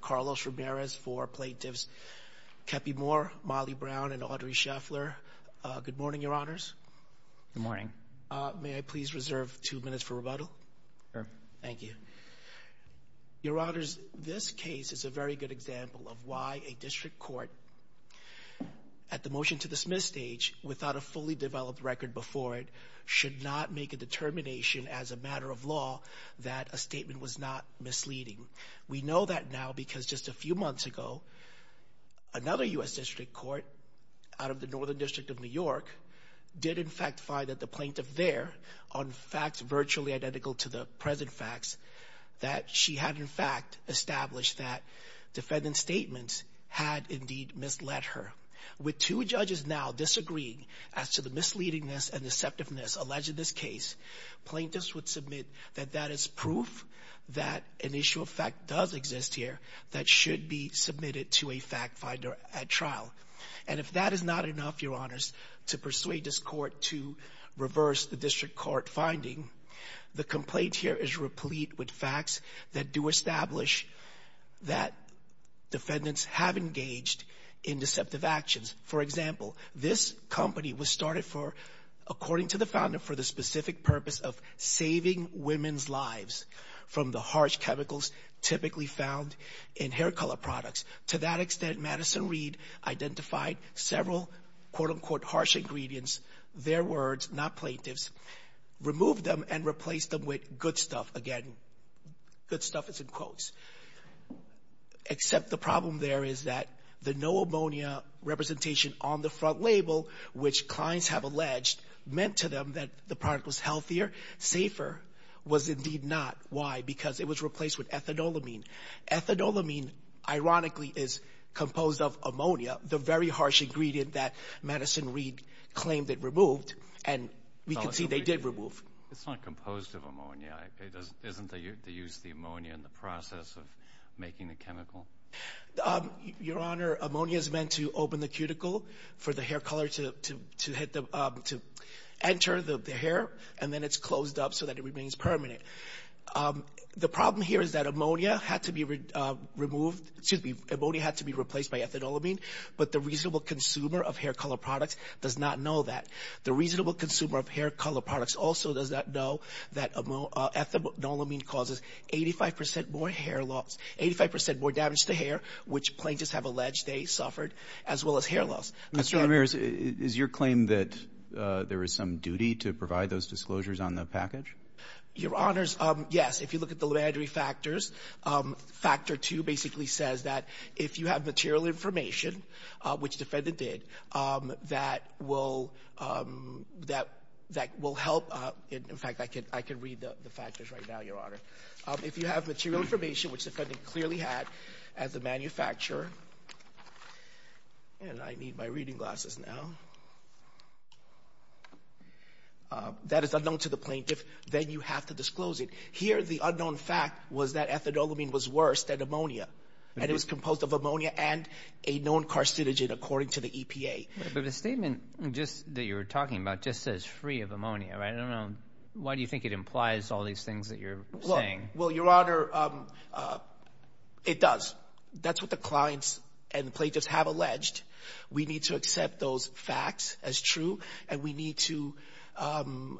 Carlos Ramirez for Plaintiffs Kepi Moore, Molly Brown, and Audrey Scheffler. Good morning, Your Honors. May I please reserve two minutes for rebuttal? Your Honors, this case is a very good example of why a district court, at the motion-to-dismiss stage, without a fully developed record before it, should not make a determination as a matter of law that a statement was not misleading. We know that now because just a few months ago, another U.S. district court, out of the Northern District of New York, did in fact find that the plaintiff there, on facts virtually identical to the present facts, that she had in fact established that defendant's statements had indeed misled her. With two judges now disagreeing as to the misleadingness and deceptiveness alleged in this case, plaintiffs would submit that that is proof that an issue of fact does exist here that should be submitted to a fact finder at trial. And if that is not enough, Your Honors, to persuade this court to reverse the district court finding, the complaint here is replete with facts that do establish that defendants have engaged in deceptive actions. For example, this company was started for, according to the founder, for the specific purpose of saving women's lives from the harsh chemicals typically found in hair color products. To that extent, Madison Reed identified several, quote-unquote, harsh ingredients, their words, not plaintiff's, removed them, and replaced them with good stuff. Again, good stuff is in quotes. Except the problem there is that the no ammonia representation on the front label, which clients have alleged meant to them that the product was healthier, safer, was indeed not. Why? Because it was replaced with ethanolamine. Ethanolamine, ironically, is composed of ammonia, the very harsh ingredient that Madison Reed claimed it removed, and we can see they did remove. It's not composed of ammonia. Isn't the use of ammonia in the process of making the chemical? Your Honor, ammonia is meant to open the cuticle for the hair color to enter the hair, and then it's closed up so that it remains permanent. The problem here is that ammonia had to be replaced by ethanolamine, but the reasonable consumer of hair color products does not know that. The reasonable consumer of hair color products also does not know that ethanolamine causes 85 percent more hair loss, 85 percent more damage to hair, which plaintiffs have alleged they suffered, as well as hair loss. Mr. Ramirez, is your claim that there is some duty to provide those disclosures on the package? Your Honors, yes. If you look at the laboratory factors, factor two basically says that if you have material information, which the defendant did, that will help. In fact, I can read the factors right now, Your Honor. If you have material information, which the defendant clearly had as a manufacturer, and I need my reading glasses now, that is unknown to the plaintiff, then you have to disclose it. Here, the unknown fact was that ethanolamine was worse than ammonia, and it was composed of ammonia and a known carcinogen, according to the EPA. But the statement that you're talking about just says free of ammonia, right? I don't know. Why do you think it implies all these things that you're saying? Well, Your Honor, it does. That's what the clients and the plaintiffs have alleged. We need to accept those facts as true, and we need to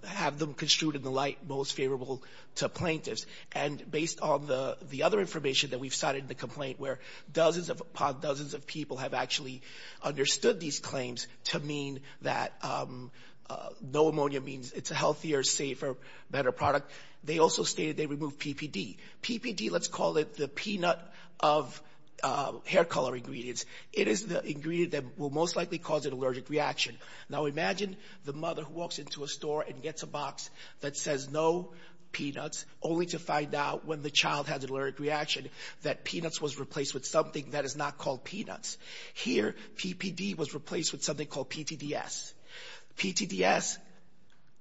have them construed in the light most favorable to plaintiffs. And based on the other information that we've cited in the complaint, where dozens upon dozens of people have actually understood these claims to mean that no ammonia means it's a healthier, safer, better product, they also stated they removed PPD. PPD, let's call it the peanut of hair color ingredients. It is the ingredient that will most likely cause an allergic reaction. Now, imagine the mother who walks into a store and gets a box that says no peanuts, only to find out when the child has an allergic reaction that peanuts was replaced with something that is not called peanuts. Here, PPD was replaced with something called PTDS. PTDS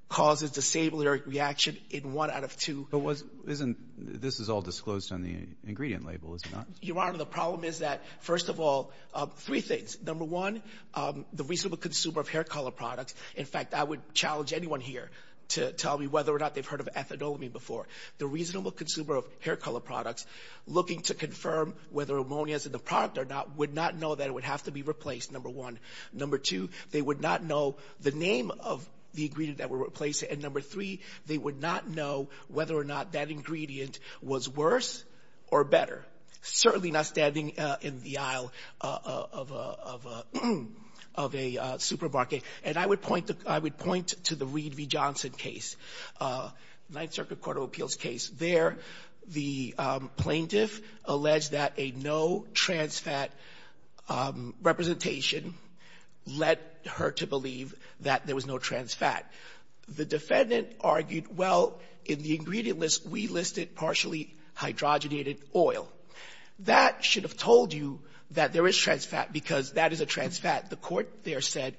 causes the same allergic reaction in one out of two. But this is all disclosed on the ingredient label, is it not? Your Honor, the problem is that, first of all, three things. Number one, the reasonable consumer of hair color products. In fact, I would challenge anyone here to tell me whether or not they've heard of ethadolamine before. The reasonable consumer of hair color products looking to confirm whether ammonia is in the product or not would not know that it would have to be replaced, number one. Number two, they would not know the name of the ingredient that would replace it. And number three, they would not know whether or not that ingredient was worse or better. Certainly not standing in the aisle of a supermarket. And I would point to the Reed v. Johnson case, Ninth Circuit Court of Appeals case. There, the plaintiff alleged that a no-trans fat representation led her to believe that there was no trans fat. The defendant argued, well, in the ingredient list, we listed partially hydrogenated oil. That should have told you that there is trans fat because that is a trans fat. The Court there said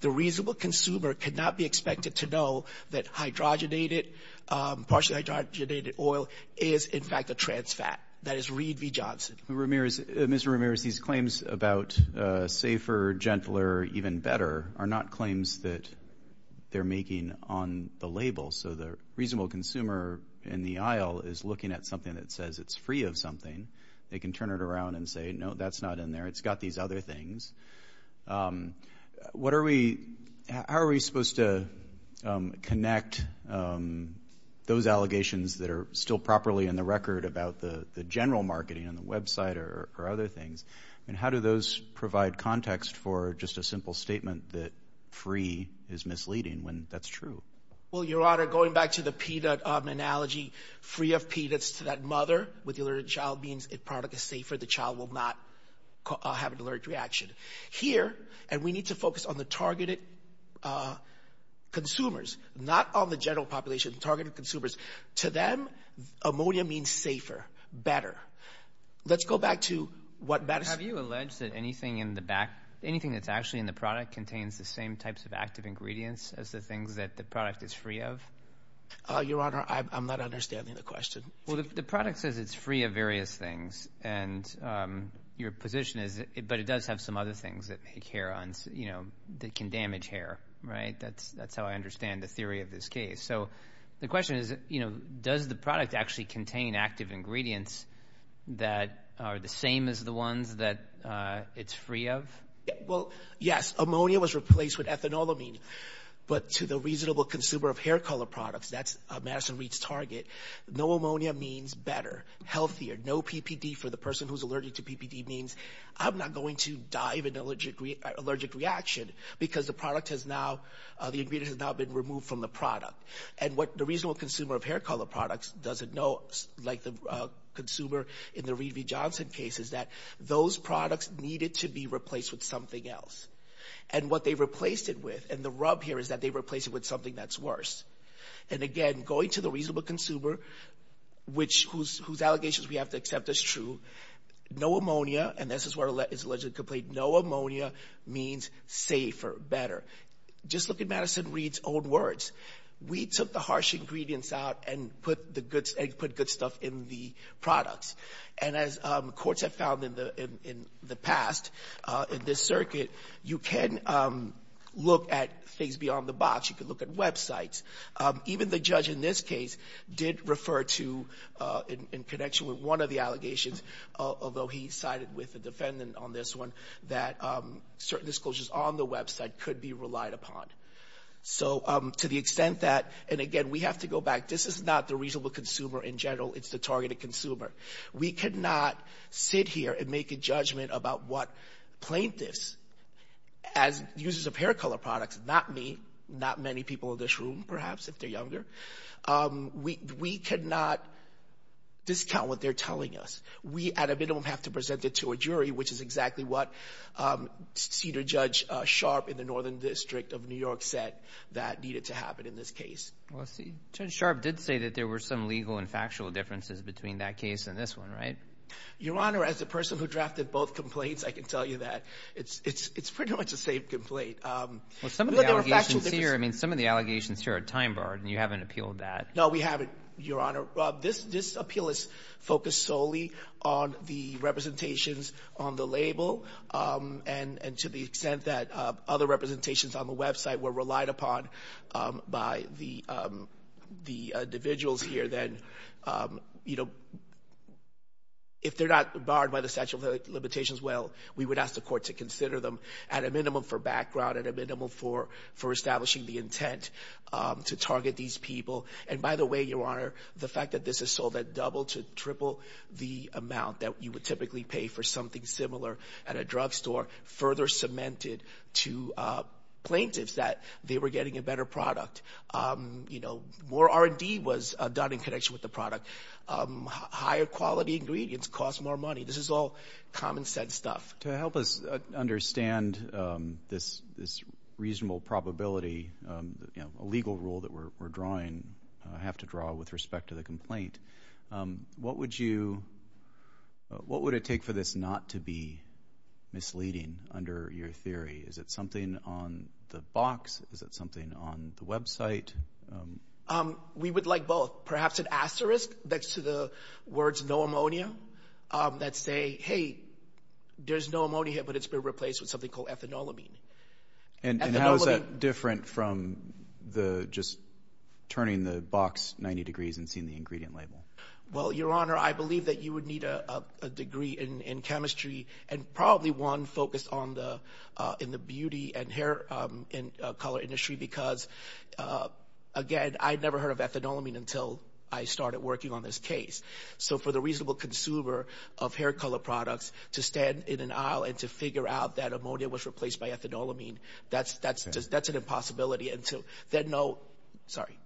the reasonable consumer could not be expected to know that hydrogenated or partially hydrogenated oil is, in fact, a trans fat. That is Reed v. Johnson. Mr. Ramirez, these claims about safer, gentler, even better are not claims that they're making on the label. So the reasonable consumer in the aisle is looking at something that says it's free of something. They can turn it around and say, no, that's not in there. It's got these other things. What are we how are we supposed to connect those allegations that are still properly in the record about the general marketing on the Web site or other things? And how do those provide context for just a simple statement that free is misleading when that's true? Well, Your Honor, going back to the peanut analogy, free of peanuts to that mother, with the alerted child means a product is safer. The child will not have an alert reaction. Here, and we need to focus on the targeted consumers, not on the general population, targeted consumers. To them, ammonia means safer, better. Let's go back to what Madison. Have you alleged that anything in the back, anything that's actually in the product, contains the same types of active ingredients as the things that the product is free of? Your Honor, I'm not understanding the question. Well, the product says it's free of various things, and your position is, but it does have some other things that make hair, that can damage hair, right? That's how I understand the theory of this case. So the question is, you know, does the product actually contain active ingredients that are the same as the ones that it's free of? Well, yes. Ammonia was replaced with ethanolamine. But to the reasonable consumer of hair color products, that's Madison Reed's target, no ammonia means better, healthier. No PPD for the person who's allergic to PPD means I'm not going to die of an allergic reaction because the ingredient has now been removed from the product. And what the reasonable consumer of hair color products doesn't know, like the consumer in the Reed v. Johnson case, is that those products needed to be replaced with something else. And what they replaced it with, and the rub here is that they replaced it with something that's worse. And again, going to the reasonable consumer, whose allegations we have to accept as true, no ammonia, and this is where it's allegedly complete, no ammonia means safer, better. Just look at Madison Reed's own words. We took the harsh ingredients out and put good stuff in the products. And as courts have found in the past in this circuit, you can look at things beyond the box. You can look at websites. Even the judge in this case did refer to, in connection with one of the allegations, although he sided with the defendant on this one, that certain disclosures on the website could be relied upon. So to the extent that, and again, we have to go back. This is not the reasonable consumer in general. It's the targeted consumer. We cannot sit here and make a judgment about what plaintiffs, as users of hair color products, not me, not many people in this room, perhaps, if they're younger, we cannot discount what they're telling us. We, at a minimum, have to present it to a jury, which is exactly what Cedar Judge Sharpe in the Northern District of New York said that needed to happen in this case. Well, Judge Sharpe did say that there were some legal and factual differences between that case and this one, right? Your Honor, as a person who drafted both complaints, I can tell you that it's pretty much the same complaint. Well, some of the allegations here, I mean, some of the allegations here are time-barred, and you haven't appealed that. No, we haven't, Your Honor. This appeal is focused solely on the representations on the label, and to the extent that other representations on the website were relied upon by the individuals here, then, you know, if they're not barred by the statute of limitations, well, we would ask the court to consider them at a minimum for background, at a minimum for establishing the intent to target these people. And by the way, Your Honor, the fact that this is sold at double to triple the amount that you would typically pay for something similar at a drugstore further cemented to plaintiffs that they were getting a better product. You know, more R&D was done in connection with the product. Higher quality ingredients cost more money. This is all common sense stuff. To help us understand this reasonable probability, you know, a legal rule that we're drawing, I have to draw with respect to the complaint. What would it take for this not to be misleading under your theory? Is it something on the box? Is it something on the website? We would like both. Perhaps an asterisk that's to the words no ammonia that say, hey, there's no ammonia, but it's been replaced with something called ethanolamine. And how is that different from the just turning the box 90 degrees and seeing the ingredient label? Well, Your Honor, I believe that you would need a degree in chemistry and probably one focused on the beauty and hair and color industry because, again, I'd never heard of ethanolamine until I started working on this case. So for the reasonable consumer of hair color products to stand in an aisle and to figure out that ammonia was replaced by ethanolamine, that's an impossibility.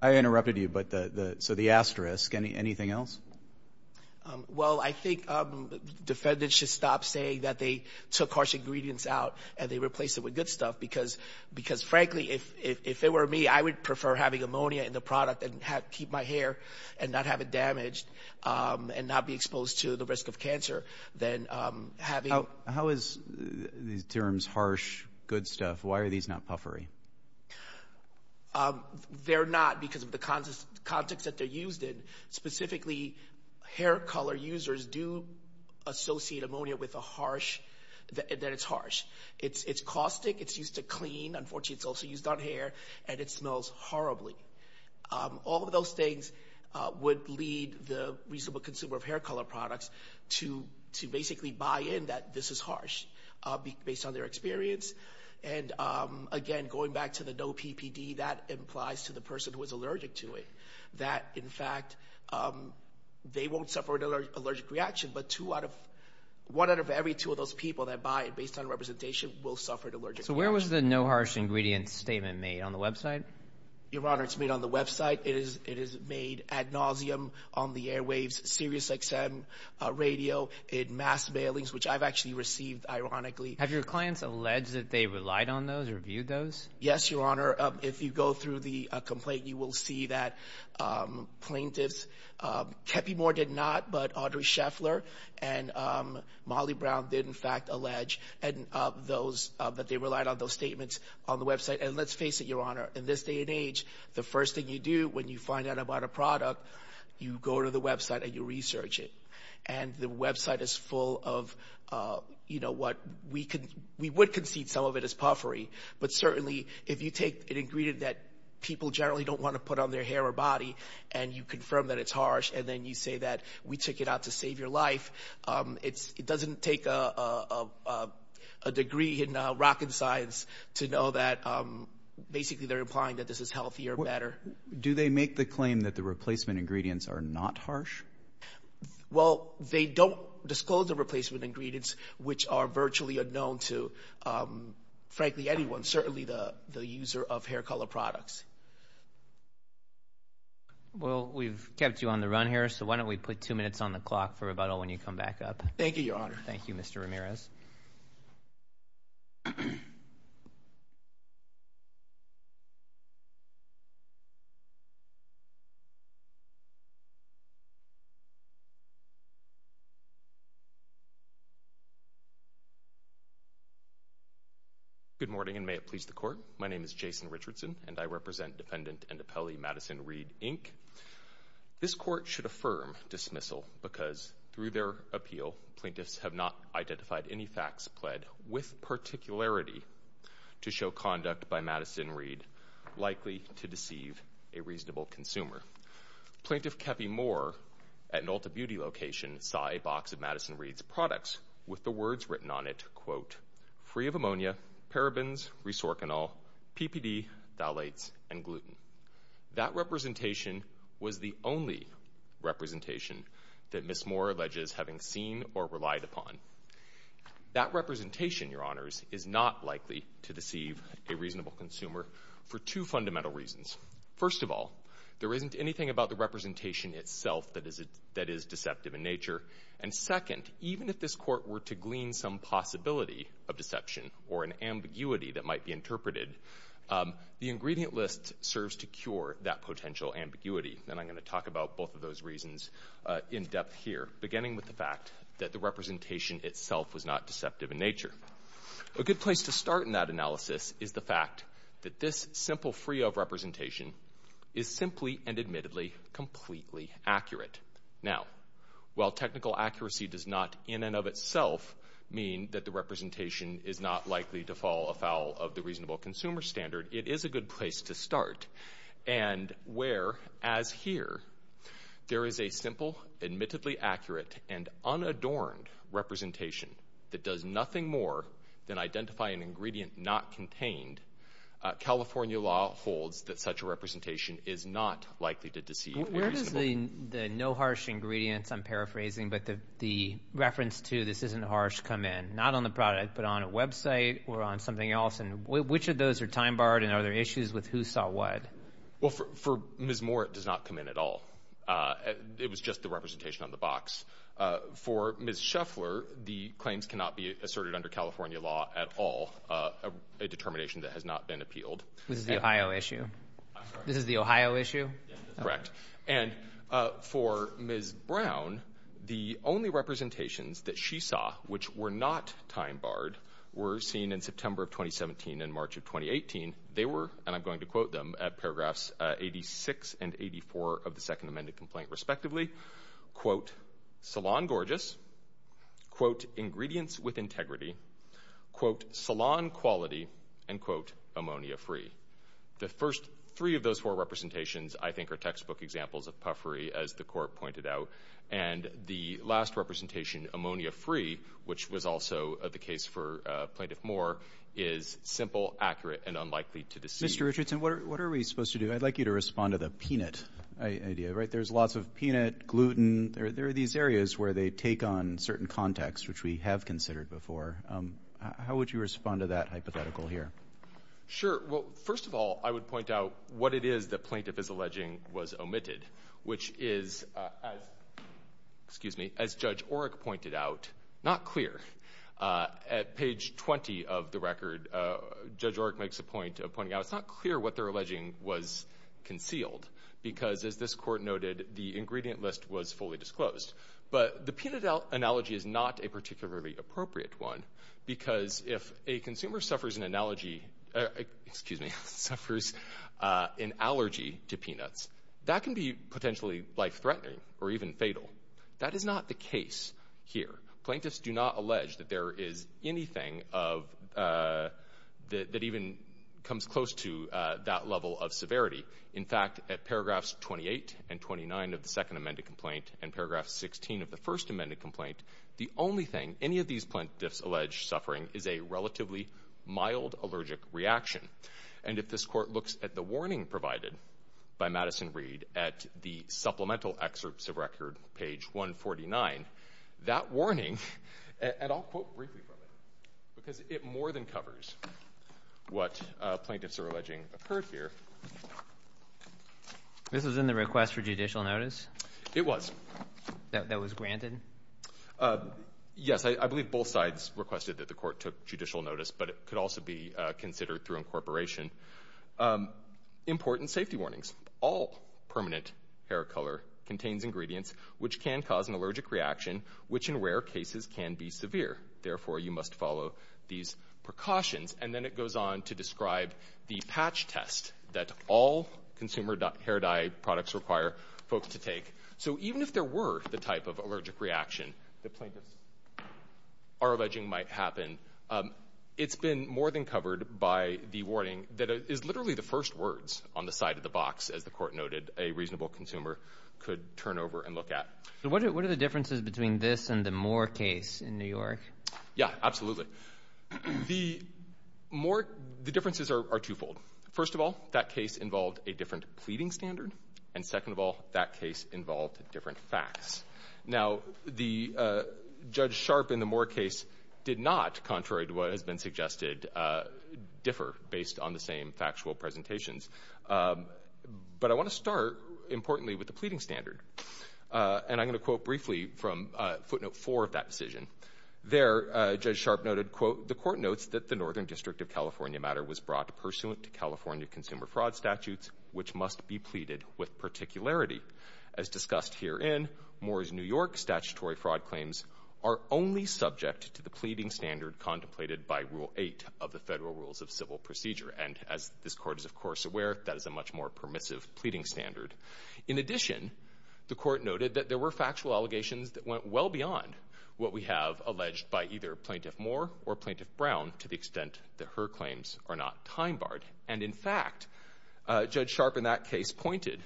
I interrupted you, so the asterisk, anything else? Well, I think defendants should stop saying that they took harsh ingredients out and they replaced it with good stuff because, frankly, if it were me, I would prefer having ammonia in the product and keep my hair and not have it damaged and not be exposed to the risk of cancer than having. How is these terms harsh, good stuff? Why are these not puffery? They're not because of the context that they're used in. Specifically, hair color users do associate ammonia with the harsh, that it's harsh. It's caustic. It's used to clean. Unfortunately, it's also used on hair, and it smells horribly. All of those things would lead the reasonable consumer of hair color products to basically buy in that this is harsh based on their experience. And, again, going back to the no PPD, that implies to the person who is allergic to it that, in fact, they won't suffer an allergic reaction, but one out of every two of those people that buy it based on representation will suffer an allergic reaction. So where was the no harsh ingredients statement made, on the website? Your Honor, it's made on the website. It is made ad nauseam on the Airwaves SiriusXM radio in mass mailings, which I've actually received, ironically. Have your clients alleged that they relied on those or viewed those? Yes, Your Honor. If you go through the complaint, you will see that plaintiffs, Keppy Moore did not, but Audrey Scheffler and Molly Brown did, in fact, allege that they relied on those statements on the website. And let's face it, Your Honor, in this day and age, the first thing you do when you find out about a product, you go to the website and you research it. And the website is full of what we would concede some of it is puffery, but certainly if you take an ingredient that people generally don't want to put on their hair or body and you confirm that it's harsh and then you say that we took it out to save your life, it doesn't take a degree in rocket science to know that basically they're implying that this is healthier, better. Do they make the claim that the replacement ingredients are not harsh? Well, they don't disclose the replacement ingredients, which are virtually unknown to, frankly, anyone, certainly the user of hair color products. Well, we've kept you on the run here, so why don't we put two minutes on the clock for rebuttal when you come back up. Thank you, Your Honor. Thank you, Mr. Ramirez. Good morning, and may it please the Court. My name is Jason Richardson, and I represent defendant and appellee Madison Reed, Inc. This court should affirm dismissal because through their appeal, plaintiffs have not identified any facts pled with particularity to show conduct by Madison Reed likely to deceive a reasonable consumer. Plaintiff Keffi Moore at an Ulta Beauty location saw a box of Madison Reed's products with the words written on it, quote, free of ammonia, parabens, resorcanol, PPD, phthalates, and gluten. That representation was the only representation that Ms. Moore alleges having seen or relied upon. That representation, Your Honors, is not likely to deceive a reasonable consumer for two fundamental reasons. First of all, there isn't anything about the representation itself that is deceptive in nature. And second, even if this court were to glean some possibility of deception or an ambiguity that might be interpreted, the ingredient list serves to cure that potential ambiguity. And I'm going to talk about both of those reasons in depth here, beginning with the fact that the representation itself was not deceptive in nature. A good place to start in that analysis is the fact that this simple free of representation is simply and admittedly completely accurate. Now, while technical accuracy does not in and of itself mean that the representation is not likely to fall afoul of the reasonable consumer standard, it is a good place to start and where, as here, there is a simple, admittedly accurate, and unadorned representation that does nothing more than identify an ingredient not contained, California law holds that such a representation is not likely to deceive a reasonable consumer. Where does the no harsh ingredients, I'm paraphrasing, but the reference to this isn't harsh come in? Not on the product, but on a website or on something else? And which of those are time-barred and are there issues with who saw what? Well, for Ms. Moore, it does not come in at all. It was just the representation on the box. For Ms. Shuffler, the claims cannot be asserted under California law at all, a determination that has not been appealed. This is the Ohio issue? I'm sorry? This is the Ohio issue? Correct. And for Ms. Brown, the only representations that she saw which were not time-barred were seen in September of 2017 and March of 2018. They were, and I'm going to quote them, at paragraphs 86 and 84 of the second amended complaint respectively, quote, salon gorgeous, quote, ingredients with integrity, quote, salon quality, and quote, ammonia free. The first three of those four representations, I think, are textbook examples of puffery, as the court pointed out. And the last representation, ammonia free, which was also the case for Plaintiff Moore, is simple, accurate, and unlikely to deceive. Mr. Richardson, what are we supposed to do? I'd like you to respond to the peanut idea, right? There's lots of peanut, gluten. There are these areas where they take on certain context, which we have considered before. How would you respond to that hypothetical here? Sure. Well, first of all, I would point out what it is that plaintiff is alleging was omitted, which is, as Judge Oreck pointed out, not clear. At page 20 of the record, Judge Oreck makes a point of pointing out it's not clear what they're alleging was concealed because, as this court noted, the ingredient list was fully disclosed. But the peanut analogy is not a particularly appropriate one because if a consumer suffers an analogy – excuse me – suffers an allergy to peanuts, that can be potentially life-threatening or even fatal. That is not the case here. Plaintiffs do not allege that there is anything that even comes close to that level of severity. In fact, at paragraphs 28 and 29 of the second amended complaint and paragraph 16 of the first amended complaint, the only thing any of these plaintiffs allege suffering is a relatively mild allergic reaction. And if this court looks at the warning provided by Madison Reed at the supplemental excerpts of record, page 149, that warning – what plaintiffs are alleging occurred here. This was in the request for judicial notice? It was. That was granted? Yes, I believe both sides requested that the court took judicial notice, but it could also be considered through incorporation. Important safety warnings. All permanent hair color contains ingredients which can cause an allergic reaction, which in rare cases can be severe. Therefore, you must follow these precautions. And then it goes on to describe the patch test that all consumer hair dye products require folks to take. So even if there were the type of allergic reaction that plaintiffs are alleging might happen, it's been more than covered by the warning that is literally the first words on the side of the box, as the court noted, a reasonable consumer could turn over and look at. So what are the differences between this and the Moore case in New York? Yeah, absolutely. The differences are twofold. First of all, that case involved a different pleading standard. And second of all, that case involved different facts. Now, Judge Sharp in the Moore case did not, contrary to what has been suggested, differ based on the same factual presentations. But I want to start, importantly, with the pleading standard. And I'm going to quote briefly from footnote four of that decision. There, Judge Sharp noted, quote, The court notes that the Northern District of California matter was brought pursuant to California consumer fraud statutes, which must be pleaded with particularity. As discussed herein, Moore's New York statutory fraud claims are only subject to the pleading standard contemplated by Rule 8 of the Federal Rules of Civil Procedure. And as this court is, of course, aware, that is a much more permissive pleading standard. In addition, the court noted that there were factual allegations that went well beyond what we have alleged by either Plaintiff Moore or Plaintiff Brown to the extent that her claims are not time barred. And in fact, Judge Sharp in that case pointed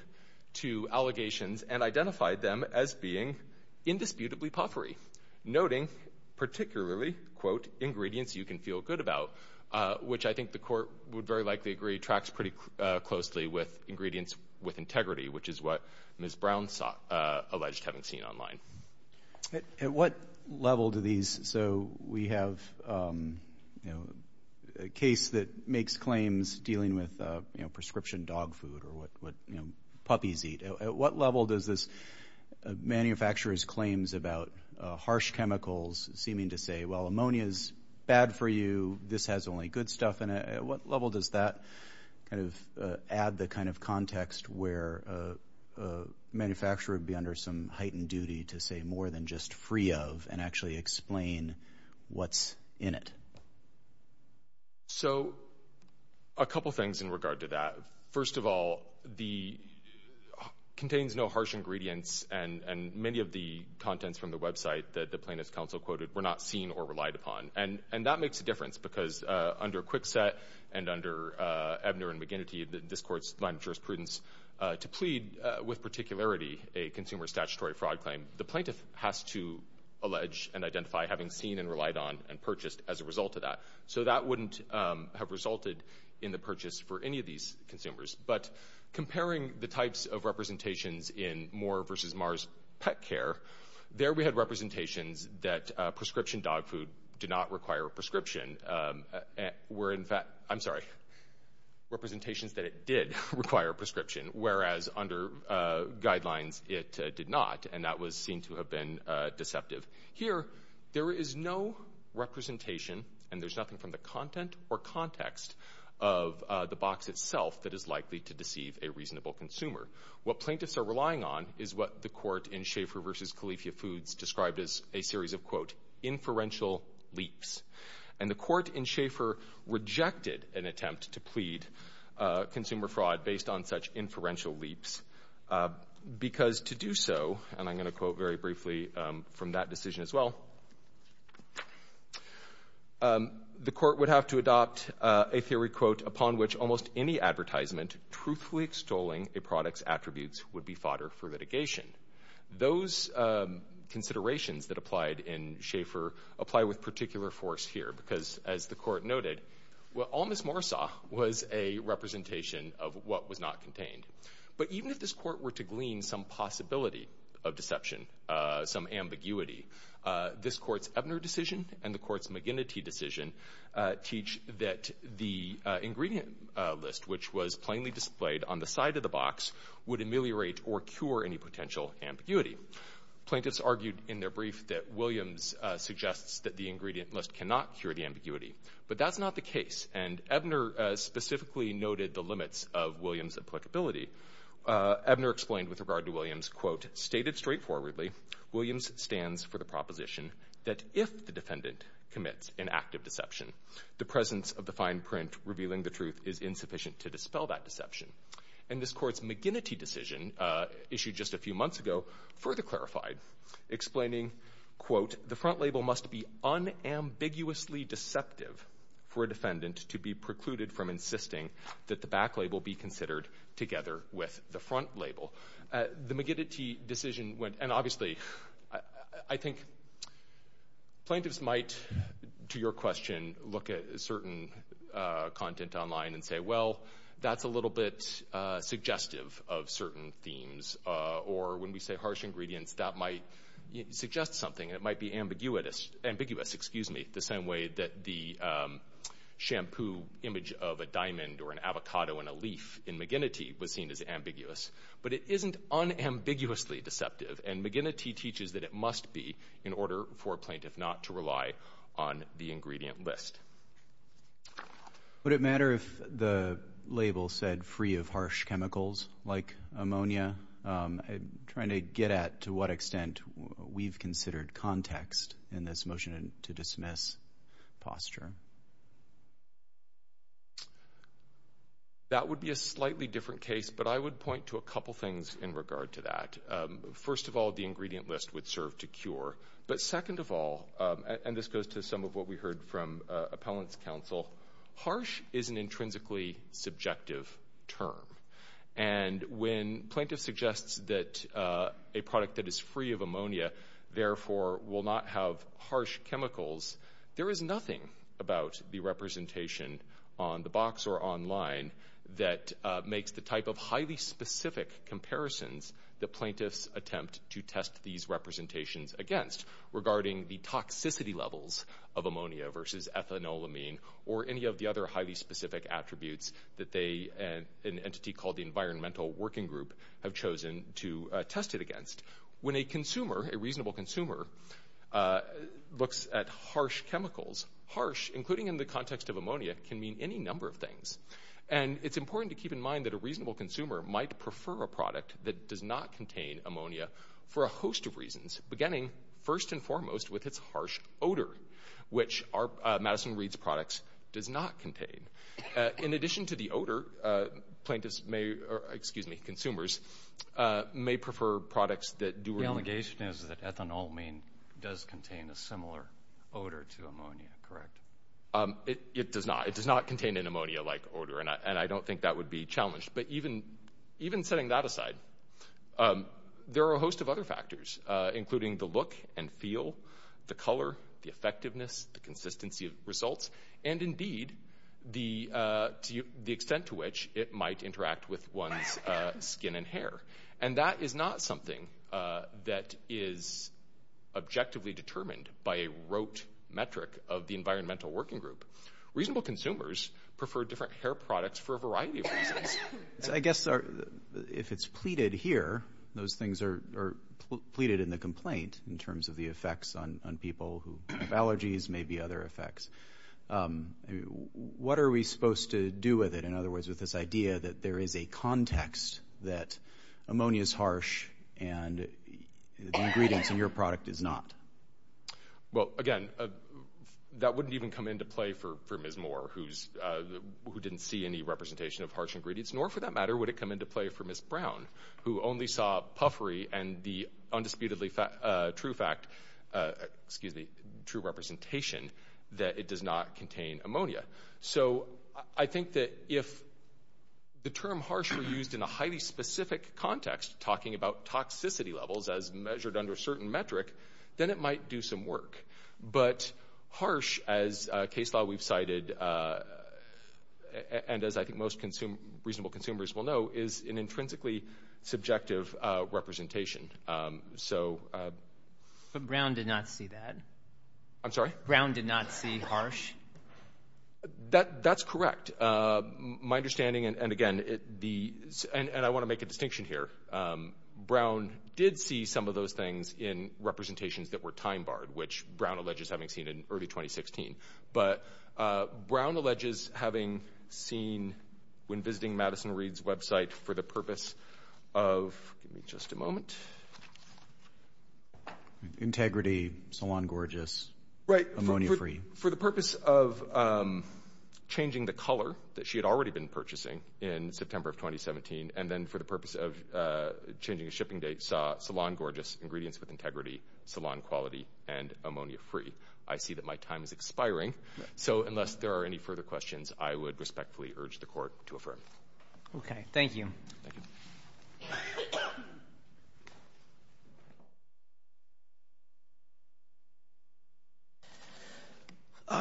to allegations and identified them as being indisputably puffery, noting particularly, quote, ingredients you can feel good about, which I think the court would very likely agree tracks pretty closely with ingredients with integrity, which is what Ms. Brown alleged having seen online. At what level do these, so we have a case that makes claims dealing with prescription dog food or what puppies eat. At what level does this manufacturer's claims about harsh chemicals seeming to say, well, ammonia is bad for you. This has only good stuff in it. At what level does that kind of add the kind of context where a manufacturer would be under some heightened duty to say more than just free of and actually explain what's in it? So a couple things in regard to that. First of all, the contains no harsh ingredients, and many of the contents from the website that the plaintiff's counsel quoted were not seen or relied upon. And that makes a difference because under Kwikset and under Ebner and McGinnity, this court's line of jurisprudence to plead with particularity a consumer statutory fraud claim, the plaintiff has to allege and identify having seen and relied on and purchased as a result of that. So that wouldn't have resulted in the purchase for any of these consumers. But comparing the types of representations in Moore v. Mars Pet Care, there we had representations that prescription dog food did not require a prescription, where in fact, I'm sorry, representations that it did require a prescription, whereas under guidelines it did not, and that was seen to have been deceptive. Here, there is no representation, and there's nothing from the content or context of the box itself that is likely to deceive a reasonable consumer. What plaintiffs are relying on is what the court in Schaeffer v. Califia Foods described as a series of, quote, inferential leaps, and the court in Schaeffer rejected an attempt to plead consumer fraud based on such inferential leaps because to do so, and I'm going to quote very briefly from that decision as well, the court would have to adopt a theory, quote, upon which almost any advertisement truthfully extolling a product's attributes would be fodder for litigation. Those considerations that applied in Schaeffer apply with particular force here because, as the court noted, well, all Ms. Moore saw was a representation of what was not contained. But even if this court were to glean some possibility of deception, some ambiguity, this court's Ebner decision and the court's McGinnity decision teach that the ingredient list, which was plainly displayed on the side of the box, would ameliorate or cure any potential ambiguity. Plaintiffs argued in their brief that Williams suggests that the ingredient list cannot cure the ambiguity, but that's not the case, and Ebner specifically noted the limits of Williams' applicability. Ebner explained with regard to Williams, quote, stated straightforwardly Williams stands for the proposition that if the defendant commits an act of deception, the presence of the fine print revealing the truth is insufficient to dispel that deception. And this court's McGinnity decision issued just a few months ago further clarified, explaining, quote, the front label must be unambiguously deceptive for a defendant to be precluded from insisting that the back label be considered together with the front label. The McGinnity decision went, and obviously I think plaintiffs might, to your question, look at certain content online and say, well, that's a little bit suggestive of certain themes, or when we say harsh ingredients, that might suggest something. It might be ambiguous the same way that the shampoo image of a diamond or an avocado in a leaf in McGinnity was seen as ambiguous. But it isn't unambiguously deceptive, and McGinnity teaches that it must be in order for a plaintiff not to rely on the ingredient list. Would it matter if the label said free of harsh chemicals like ammonia? I'm trying to get at to what extent we've considered context in this motion to dismiss posture. That would be a slightly different case, but I would point to a couple things in regard to that. First of all, the ingredient list would serve to cure. But second of all, and this goes to some of what we heard from appellant's counsel, harsh is an intrinsically subjective term. And when plaintiffs suggest that a product that is free of ammonia, therefore, will not have harsh chemicals, there is nothing about the representation on the box or online that makes the type of highly specific comparisons that plaintiffs attempt to test these representations against regarding the toxicity levels of ammonia versus ethanolamine or any of the other highly specific attributes that they, an entity called the Environmental Working Group, have chosen to test it against. When a consumer, a reasonable consumer, looks at harsh chemicals, harsh, including in the context of ammonia, can mean any number of things. And it's important to keep in mind that a reasonable consumer might prefer a product that does not contain ammonia for a host of reasons, beginning, first and foremost, with its harsh odor, which Madison Reed's products does not contain. In addition to the odor, plaintiffs may, or, excuse me, consumers may prefer products that do. The allegation is that ethanolamine does contain a similar odor to ammonia, correct? It does not. It does not contain an ammonia-like odor, and I don't think that would be challenged. But even setting that aside, there are a host of other factors, including the look and feel, the color, the effectiveness, the consistency of results, and, indeed, the extent to which it might interact with one's skin and hair. And that is not something that is objectively determined by a rote metric of the Environmental Working Group. Reasonable consumers prefer different hair products for a variety of reasons. I guess if it's pleaded here, those things are pleaded in the complaint, in terms of the effects on people who have allergies, maybe other effects. What are we supposed to do with it, in other words, with this idea that there is a context that ammonia is harsh and the ingredients in your product is not? Well, again, that wouldn't even come into play for Ms. Moore, who didn't see any representation of harsh ingredients, nor, for that matter, would it come into play for Ms. Brown, who only saw puffery and the undisputedly true fact, excuse me, true representation that it does not contain ammonia. So I think that if the term harsh were used in a highly specific context, talking about toxicity levels as measured under a certain metric, then it might do some work. But harsh, as a case law we've cited, and as I think most reasonable consumers will know, is an intrinsically subjective representation. But Brown did not see that. I'm sorry? Brown did not see harsh? That's correct. My understanding, and again, and I want to make a distinction here, Brown did see some of those things in representations that were time-barred, which Brown alleges having seen in early 2016. But Brown alleges having seen, when visiting Madison Reed's website, for the purpose of, give me just a moment. Integrity, Salon Gorgeous, ammonia-free. Right. For the purpose of changing the color that she had already been purchasing in September of 2017, and then for the purpose of changing a shipping date, saw Salon Gorgeous, ingredients with integrity, salon quality, and ammonia-free. I see that my time is expiring. So unless there are any further questions, I would respectfully urge the Court to affirm. Okay. Thank you. Thank you.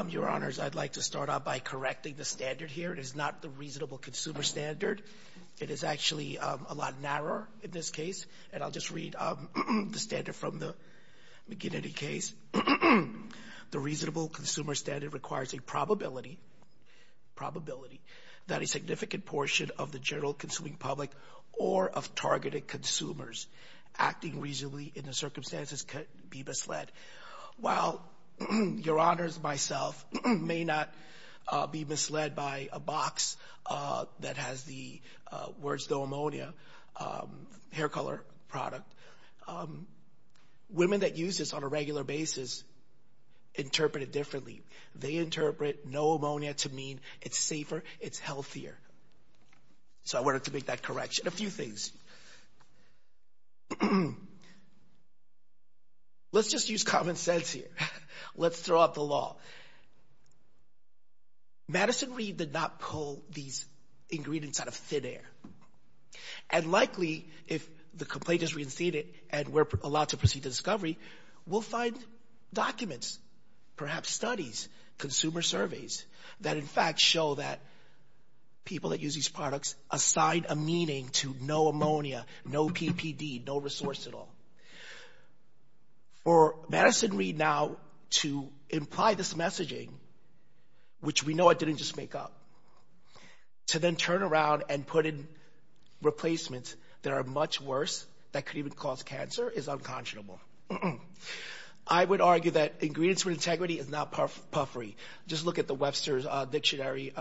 Your Honors, I'd like to start off by correcting the standard here. It is not the reasonable consumer standard. It is actually a lot narrower in this case. And I'll just read the standard from the McGinnity case. The reasonable consumer standard requires a probability that a significant portion of the general consuming public or of targeted consumers acting reasonably in the circumstances could be misled. While Your Honors, myself, may not be misled by a box that has the words no ammonia hair color product, women that use this on a regular basis interpret it differently. They interpret no ammonia to mean it's safer, it's healthier. So I wanted to make that correction. A few things. Let's just use common sense here. Let's throw out the law. Madison Reed did not pull these ingredients out of thin air. And likely, if the complaint is reinstated and we're allowed to proceed to discovery, we'll find documents, perhaps studies, consumer surveys, that in fact show that people that use these products assign a meaning to no ammonia, no PPD, no resource at all. For Madison Reed now to imply this messaging, which we know it didn't just make up, to then turn around and put in replacements that are much worse, that could even cause cancer, is unconscionable. I would argue that ingredients with integrity is not puffery. Just look at the Webster's Dictionary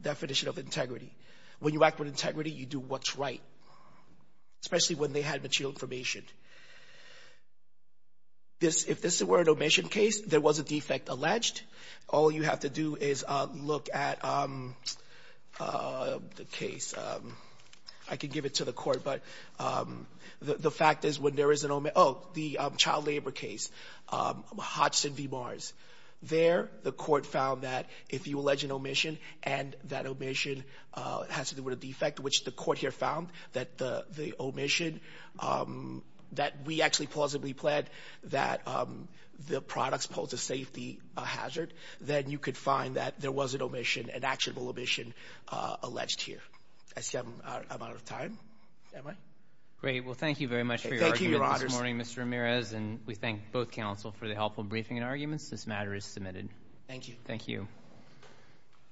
definition of integrity. When you act with integrity, you do what's right, especially when they had material information. If this were an omission case, there was a defect alleged. All you have to do is look at the case. I could give it to the court, but the fact is when there is an omission, oh, the child labor case, Hodgson v. Mars. There, the court found that if you allege an omission and that omission has to do with a defect, which the court here found that the omission that we actually plausibly planned that the products pose a safety hazard, then you could find that there was an omission, an actionable omission alleged here. I see I'm out of time. Am I? Great. Well, thank you very much for your argument this morning, Mr. Ramirez, and we thank both counsel for the helpful briefing and arguments. This matter is submitted. Thank you. Thank you.